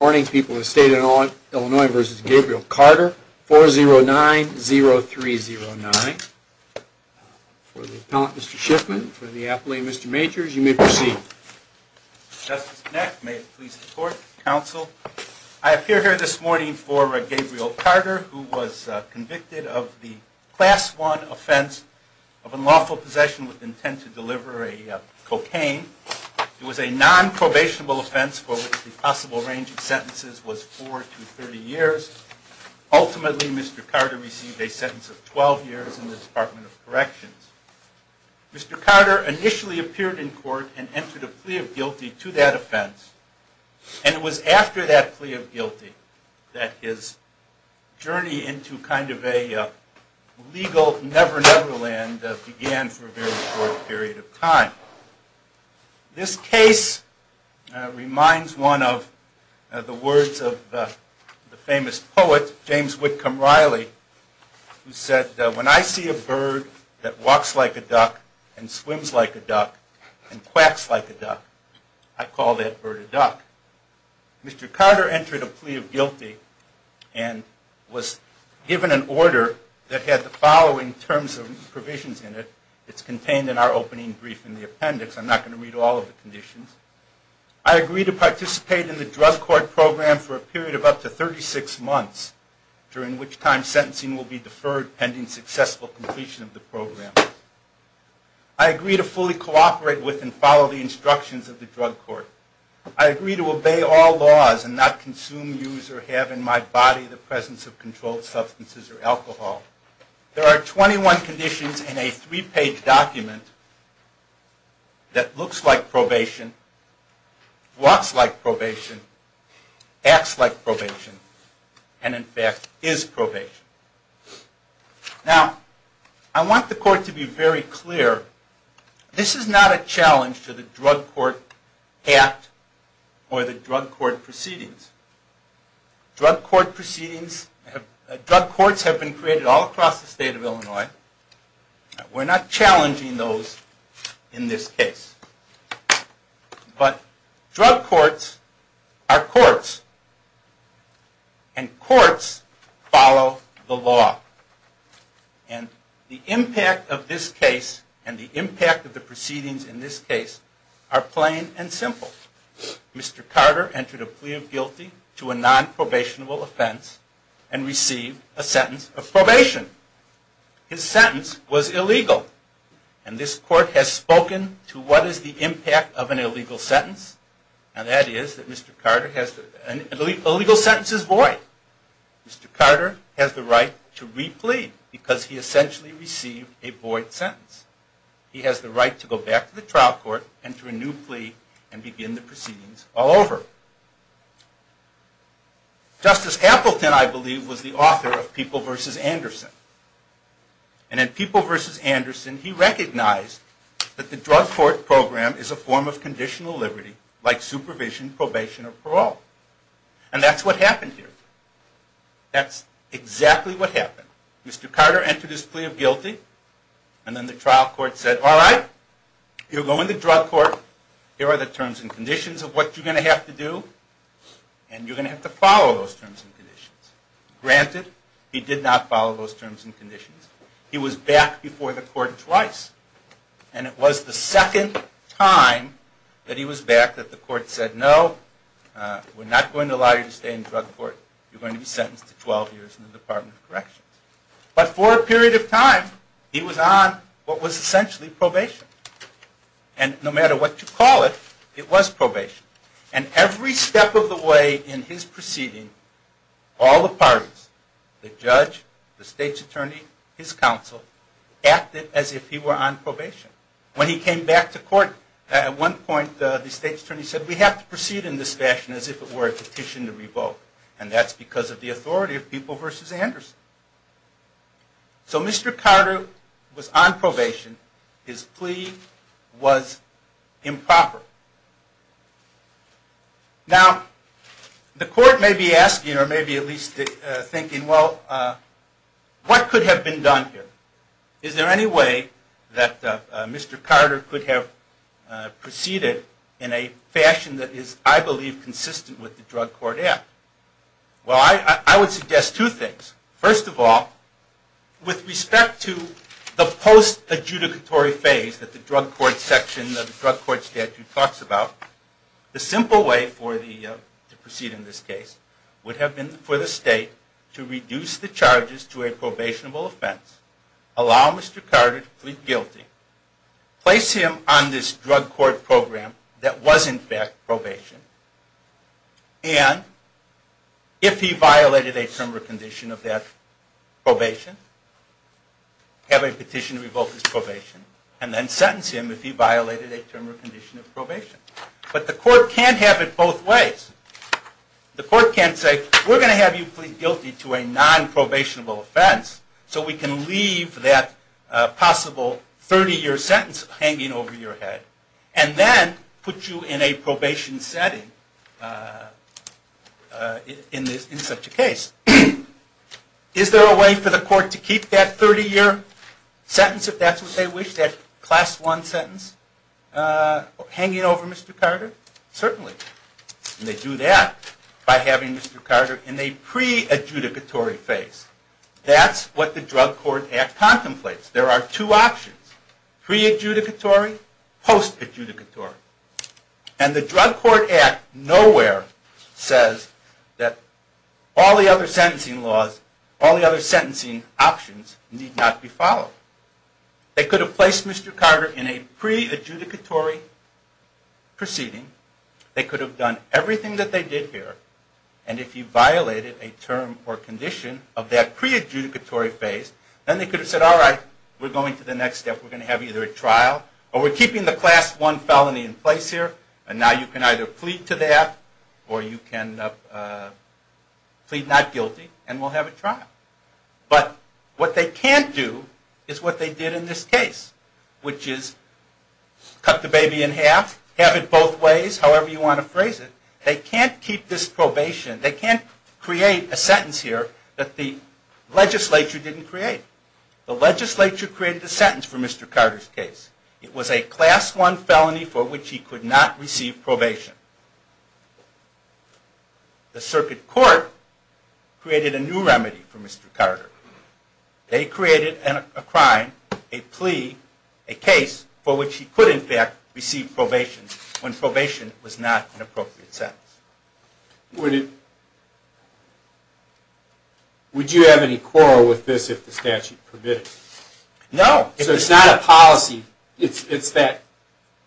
Good morning people of the state of Illinois, this is Gabriel Carter, 4090309. For the appellant, Mr. Shiffman, for the appellee, Mr. Majors, you may proceed. Justice Knack, may it please the court, counsel, I appear here this morning for Gabriel Carter, who was convicted of the class one offense of unlawful possession with intent to deliver a cocaine. It was a non-probationable offense for which the possible range of sentences was four to 30 years. Ultimately, Mr. Carter received a sentence of 12 years in the Department of Corrections. Mr. Carter initially appeared in court and entered a plea of guilty to that offense, and it was after that plea of guilty that his journey into kind of a legal never-never land began for a very short period of time. This case reminds one of the words of the famous poet, James Whitcomb Riley, who said, when I see a bird that walks like a duck and swims like a duck and quacks like a duck, I call that bird a duck. Mr. Carter entered a plea of guilty and was given an order that had the following terms and provisions in it. It's contained in our opening brief in the appendix. I'm not going to read all of the conditions. I agree to participate in the drug court program for a period of up to 36 months, during which time sentencing will be deferred pending successful completion of the program. I agree to fully cooperate with and follow the instructions of the drug court. I agree to obey all laws and not consume, use, or have in my body the presence of controlled substances or alcohol. There are 21 conditions in a three-page document that looks like probation, walks like probation, acts like probation, and in fact, is probation. Now, I want the court to be very clear. This is not a challenge to the Drug Court Act or the drug court proceedings. Drug court proceedings, drug courts have been created all across the state of Illinois. We're not challenging those in this case. But drug courts are courts, and courts follow the law. And the impact of this case and the impact of the proceedings in this case are plain and simple. Mr. Carter entered a plea of guilty to a non-probationable offense and received a sentence of probation. His sentence was illegal. And this court has spoken to what is the impact of an illegal sentence. And that is that Mr. Carter has, an illegal sentence is void. Mr. Carter has the right to re-plead because he essentially received a void sentence. He has the right to go back to the trial court, enter a new plea, and begin the proceedings all over. Justice Appleton, I believe, was the author of People v. Anderson. And in People v. Anderson, he recognized that the drug court program is a form of conditional liberty, like supervision, probation, or parole. And that's what happened here. That's exactly what happened. Mr. Carter entered his plea of guilty. And then the trial court said, all right, you're going to the drug court. Here are the terms and conditions of what you're going to have to do. And you're going to have to follow those terms and conditions. Granted, he did not follow those terms and conditions. He was back before the court twice. And it was the second time that he was back that the court said, no, we're not going to allow you to stay in the drug court. You're going to be sentenced to 12 years in the Department of Corrections. But for a period of time, he was on what was essentially probation. And no matter what you call it, it was probation. And every step of the way in his proceeding, all the parties, the judge, the state's attorney, his counsel, acted as if he were on probation. When he came back to court, at one point the state's attorney said, we have to proceed in this fashion as if it were a petition to revoke. And that's because of the authority of People v. Anderson. So Mr. Carter was on probation. His plea was improper. Now, the court may be asking, or maybe at least thinking, well, what could have been done here? Is there any way that Mr. Carter could have proceeded in a fashion that is, I believe, consistent with the Drug Court Act? Well, I would suggest two things. First of all, with respect to the post-adjudicatory phase that the Drug Court section of the Drug Court statute talks about, the simple way to proceed in this case would have been for the state to reduce the charges to a probationable offense, allow Mr. Carter to plead guilty, place him on this drug court program that was, in fact, probation, and if he violated a term or condition of that probation, have a petition to revoke his probation, and then sentence him if he violated a term or condition of probation. But the court can't have it both ways. The court can't say, we're going to have you plead guilty to a non-probationable offense, so we can leave that possible 30-year sentence hanging over your head, and then put you in a probation setting in such a case. Is there a way for the court to keep that 30-year sentence, if that's what they wish, that class one sentence, hanging over Mr. Carter? Certainly. And they do that by having Mr. Carter in a pre-adjudicatory phase. That's what the Drug Court Act contemplates. There are two options, pre-adjudicatory, post-adjudicatory. And the Drug Court Act nowhere says that all the other sentencing laws, all the other sentencing options need not be followed. They could have placed Mr. Carter in a pre-adjudicatory proceeding. They could have done everything that they did here. And if he violated a term or condition of that pre-adjudicatory phase, then they could have said, all right, we're going to the next step. We're going to have either a trial, or we're keeping the class one felony in place here. And now you can either plead to that, or you can plead not guilty, and we'll have a trial. But what they can't do is what they did in this case, which is cut the baby in half, have it both ways, however you want to phrase it. They can't keep this probation. They can't create a sentence here that the legislature didn't create. The legislature created a sentence for Mr. Carter's case. It was a class one felony for which he could not receive probation. The circuit court created a new remedy for Mr. Carter. They created a crime, a plea, a case for which he could, in fact, receive probation when probation was not an appropriate sentence. Would you have any quarrel with this if the statute permitted it? No. So it's not a policy. It's that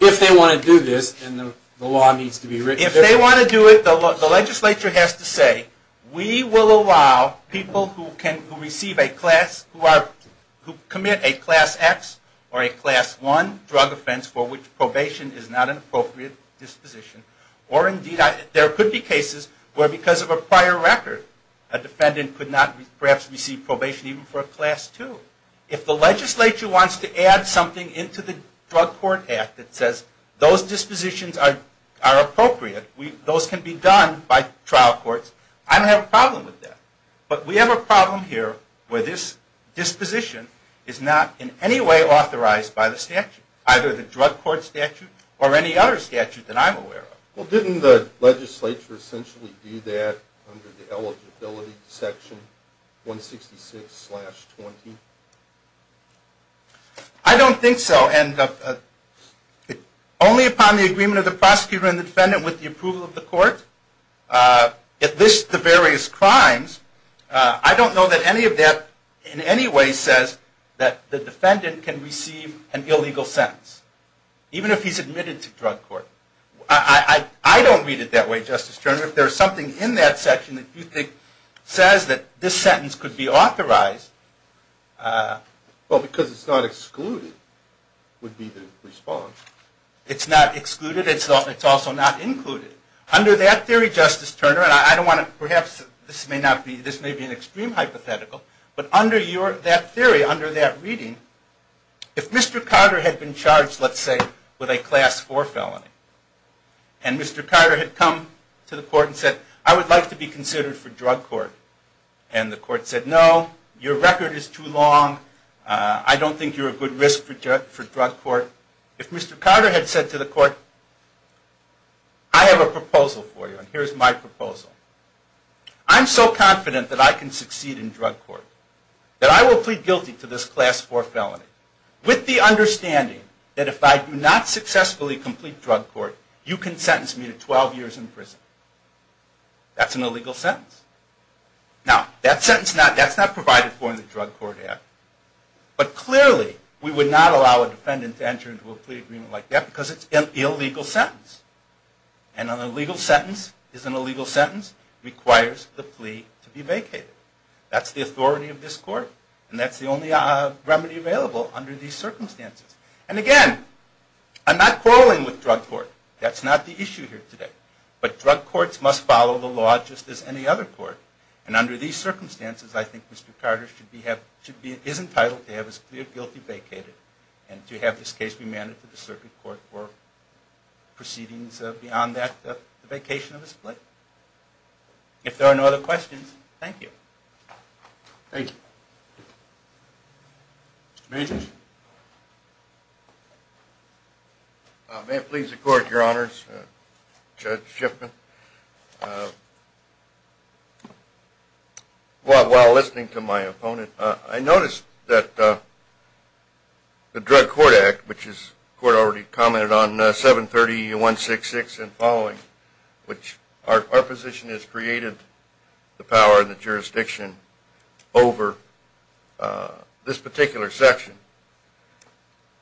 if they want to do this, then the law needs to be written differently. If they want to do it, the legislature has to say, we will allow people who commit a class X or a class one drug offense for which probation is not an appropriate disposition, or indeed there could be cases where because of a prior record, a defendant could not perhaps receive probation even for a class two. If the legislature wants to add something into the Drug Court Act that says those dispositions are appropriate, those can be done by trial courts, I don't have a problem with that. But we have a problem here where this disposition is not in any way authorized by the statute, either the Drug Court statute or any other statute that I'm aware of. Well, didn't the legislature essentially do that under the eligibility section 166-20? I don't think so. And only upon the agreement of the prosecutor and the defendant with the approval of the court, it lists the various crimes. I don't know that any of that in any way says that the defendant can receive an illegal sentence, even if he's admitted to drug court. I don't read it that way, Justice Turner. If there's something in that section that says that this sentence could be authorized. Well, because it's not excluded would be the response. It's not excluded. It's also not included. Under that theory, Justice Turner, and perhaps this may be an extreme hypothetical, but under that theory, under that reading, if Mr. Carter had been charged, let's say, with a Class 4 felony, and Mr. Carter had come to the court and said, I would like to be considered for drug court. And the court said, no, your record is too long. I don't think you're a good risk for drug court. If Mr. Carter had said to the court, I have a proposal for you, and here's my proposal. I'm so confident that I can succeed in drug court that I will plead guilty to this Class 4 felony with the understanding that if I do not successfully complete drug court, you can sentence me to 12 years in prison. That's an illegal sentence. Now, that sentence, that's not provided for in the Drug Court Act. But clearly, we would not allow a defendant to enter into a plea agreement like that because it's an illegal sentence. And an illegal sentence is an illegal sentence requires the plea to be vacated. That's the authority of this court. And that's the only remedy available under these circumstances. And again, I'm not quarreling with drug court. That's not the issue here today. But drug courts must follow the law just as any other court. And under these circumstances, I think Mr. Carter is entitled to have his plea of guilty vacated and to have this case be mandated to the circuit court for proceedings beyond that, the vacation of his plea. If there are no other questions, thank you. Mr. Major? May it please the court, your honors, Judge Shiffman. While listening to my opponent, I noticed that the Drug Court Act, which the court already commented on, 730.166 and following, which our position is created the power and the jurisdiction over this particular section.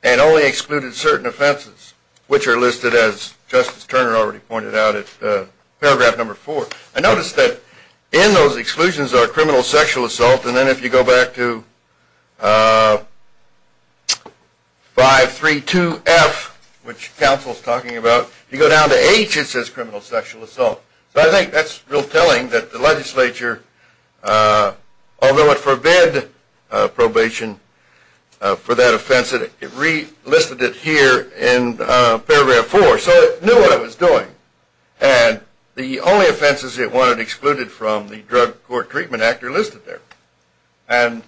And only excluded certain offenses, which are listed as Justice Turner already pointed out in paragraph number four. I noticed that in those exclusions are criminal sexual assault. And then if you go back to 532F, which counsel's talking about, you go down to H, it says criminal sexual assault. But I think that's real telling that the legislature, although it forbid probation for that offense, it listed it here in paragraph four. So it knew what it was doing. And the only offenses it wanted excluded from the Drug Court Treatment Act are listed there. And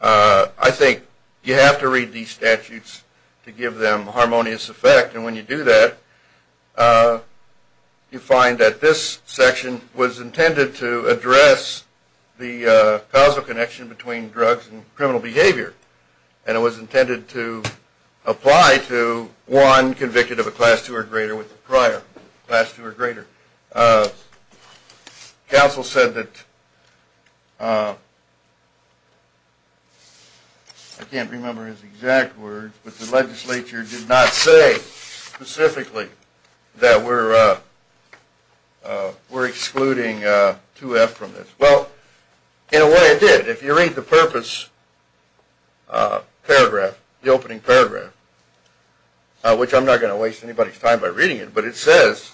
I think you have to read these statutes to give them harmonious effect. And when you do that, you find that this section was intended to address the causal connection between drugs and criminal behavior. And it was intended to apply to one convicted of a class two or greater with the prior class two or greater. Counsel said that, I can't remember his exact words, but the legislature did not say specifically that we're excluding 2F from this. Well, in a way it did. If you read the purpose paragraph, the opening paragraph, which I'm not going to waste anybody's time by reading it, but it says,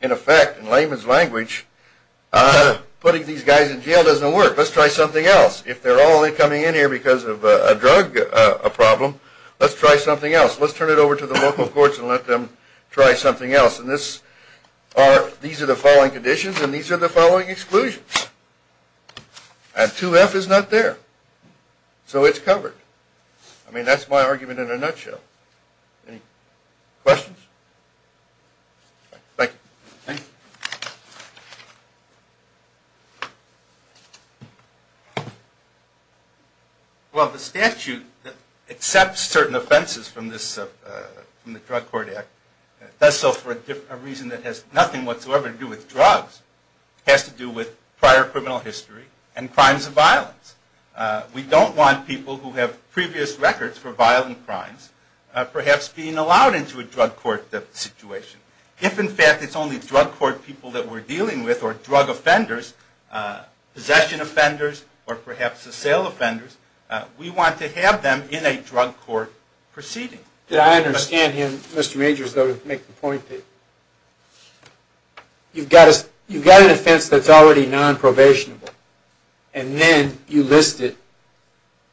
in effect, in layman's language, putting these guys in jail doesn't work. Let's try something else. If they're only coming in here because of a drug problem, let's try something else. Let's turn it over to the local courts and let them try something else. And these are the following conditions and these are the following exclusions. And 2F is not there. So it's covered. I mean, that's my argument in a nutshell. Any questions? Thank you. Thank you. Well, the statute that accepts certain offenses from the Drug Court Act does so for a reason that has nothing whatsoever to do with drugs. It has to do with prior criminal history and crimes of violence. We don't want people who have previous records for violent crimes perhaps being allowed into a drug court situation. If, in fact, it's only drug court people that we're dealing with or drug offenders, possession offenders, or perhaps assail offenders, we want to have them in a drug court proceeding. Did I understand him, Mr. Majors, though, to make the point that you've got an offense that's already non-probationable and then you list it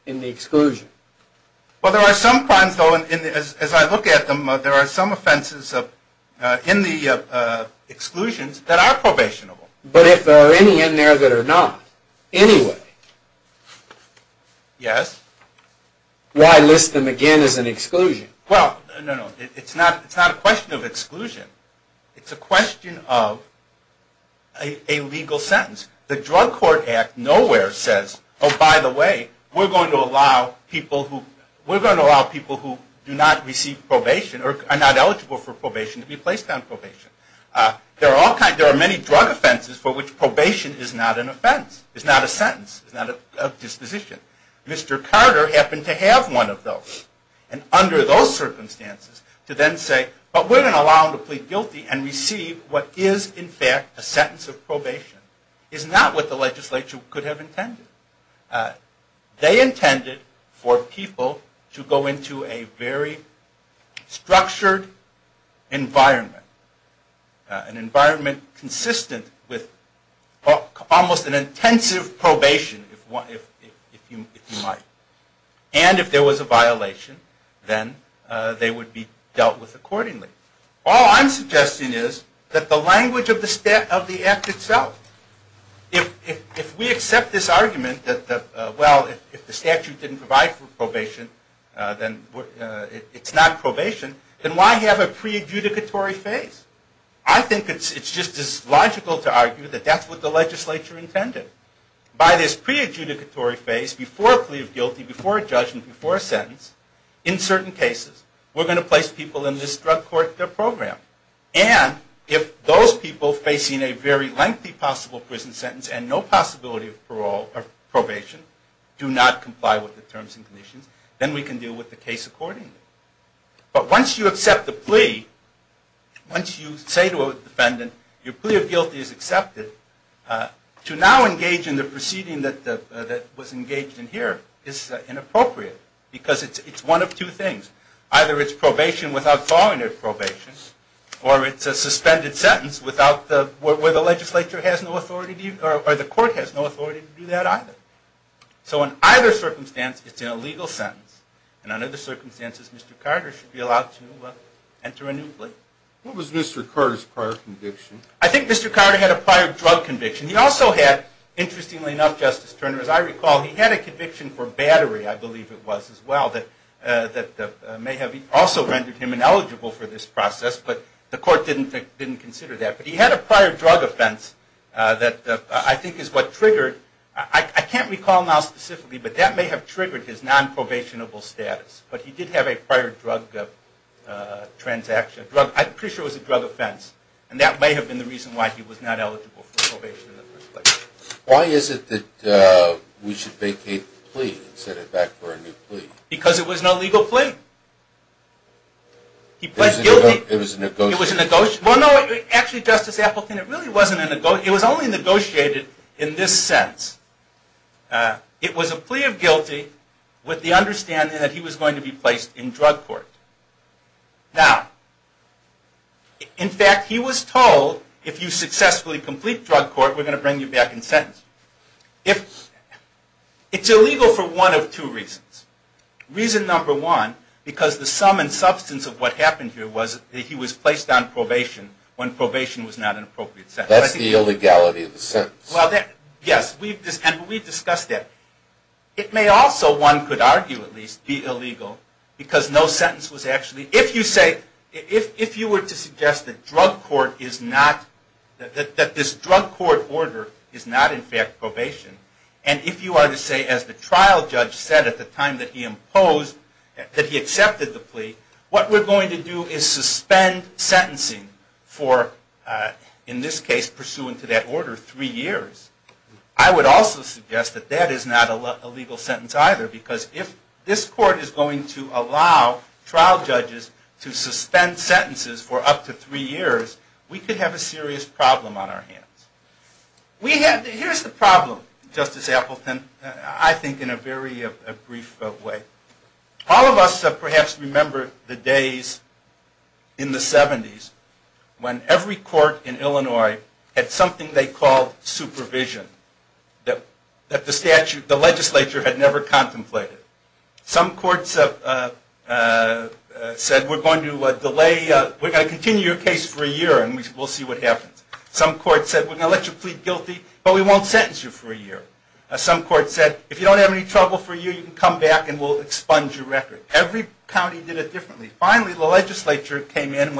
in the exclusion? Well, there are some crimes, though, and as I look at them, there are some offenses in the exclusions that are probationable. But if there are any in there that are not anyway, why list them again as an exclusion? Well, no, no, it's not a question of exclusion. It's a question of a legal sentence. The Drug Court Act nowhere says, oh, by the way, we're going to allow people who do not receive probation or are not eligible for probation to be placed on probation. There are many drug offenses for which probation is not an offense, is not a sentence, is not a disposition. Mr. Carter happened to have one of those. And under those circumstances, to then say, but we're going to allow him to plead guilty and receive what is, in fact, a sentence of probation, is not what the legislature could have intended. They intended for people to go into a very structured environment, an environment consistent with almost an intensive probation, if you might. And if there was a violation, then they would be dealt with accordingly. All I'm suggesting is that the language of the act itself, if we accept this argument that, well, if the statute didn't provide for probation, then it's not probation, then why have a pre-adjudicatory phase? I think it's just as logical to argue that that's what the legislature intended. By this pre-adjudicatory phase, before a plea of guilty, before a judgment, before a sentence, in certain cases, we're going to place people in this drug court, their program. And if those people facing a very lengthy possible prison sentence and no possibility of probation do not comply with the terms and conditions, then we can deal with the case accordingly. But once you accept the plea, once you say to a defendant, your plea of guilty is accepted, to now engage in the proceeding that was engaged in here is inappropriate. Because it's one of two things. Either it's probation without following their probation, or it's a suspended sentence where the court has no authority to do that either. So in either circumstance, it's an illegal sentence. And under the circumstances, Mr. Carter should be allowed to enter anew. What was Mr. Carter's prior conviction? I think Mr. Carter had a prior drug conviction. He also had, interestingly enough, Justice Turner, as I recall, he had a conviction for battery, I believe it was, as well. That may have also rendered him ineligible for this process. But the court didn't consider that. But he had a prior drug offense that I think is what triggered, I can't recall now specifically, but that may have triggered his non-probationable status. But he did have a prior drug transaction. I'm pretty sure it was a drug offense. And that may have been the reason why he was not eligible for probation. Why is it that we should vacate the plea and set it back for a new plea? Because it was an illegal plea. He pled guilty. It was a negotiation. Well, no, actually, Justice Appleton, it really wasn't a negotiation. It was only negotiated in this sense. It was a plea of guilty with the understanding that he was going to be placed in drug court. Now, in fact, he was told, if you successfully complete drug court, we're going to bring you back in sentence. It's illegal for one of two reasons. Reason number one, because the sum and substance of what happened here was that he was placed on probation when probation was not an appropriate sentence. That's the illegality of the sentence. Well, yes, and we've discussed that. It may also, one could argue at least, be illegal because no sentence was actually... If you were to suggest that this drug court order is not, in fact, probation, and if you were to say, as the trial judge said at the time that he imposed, that he accepted the plea, what we're going to do is suspend sentencing for, in this case, pursuant to that order, three years. I would also suggest that that is not a legal sentence either, because if this court is going to allow trial judges to suspend sentences for up to three years, we could have a serious problem on our hands. Here's the problem, Justice Appleton, I think in a very brief way. All of us have perhaps remembered the days in the 70s when every court in Illinois had something they called supervision that the legislature had never contemplated. Some courts said, we're going to delay, we're going to continue your case for a year and we'll see what happens. Some courts said, we're going to let you plead guilty, but we won't sentence you for a year. Some courts said, if you don't have any trouble for a year, you can come back and we'll expunge your record. Every county did it differently. Finally, the legislature came in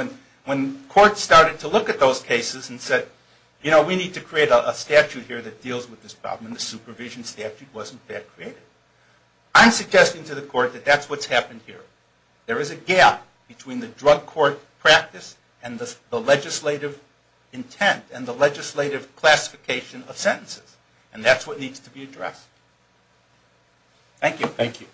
when courts started to look at those cases and said, you know, we need to create a statute here that deals with this problem. And the supervision statute was, in fact, created. I'm suggesting to the court that that's what's happened here. There is a gap between the drug court practice and the legislative intent and the legislative classification of sentences. And that's what needs to be addressed. Thank you. Thank you.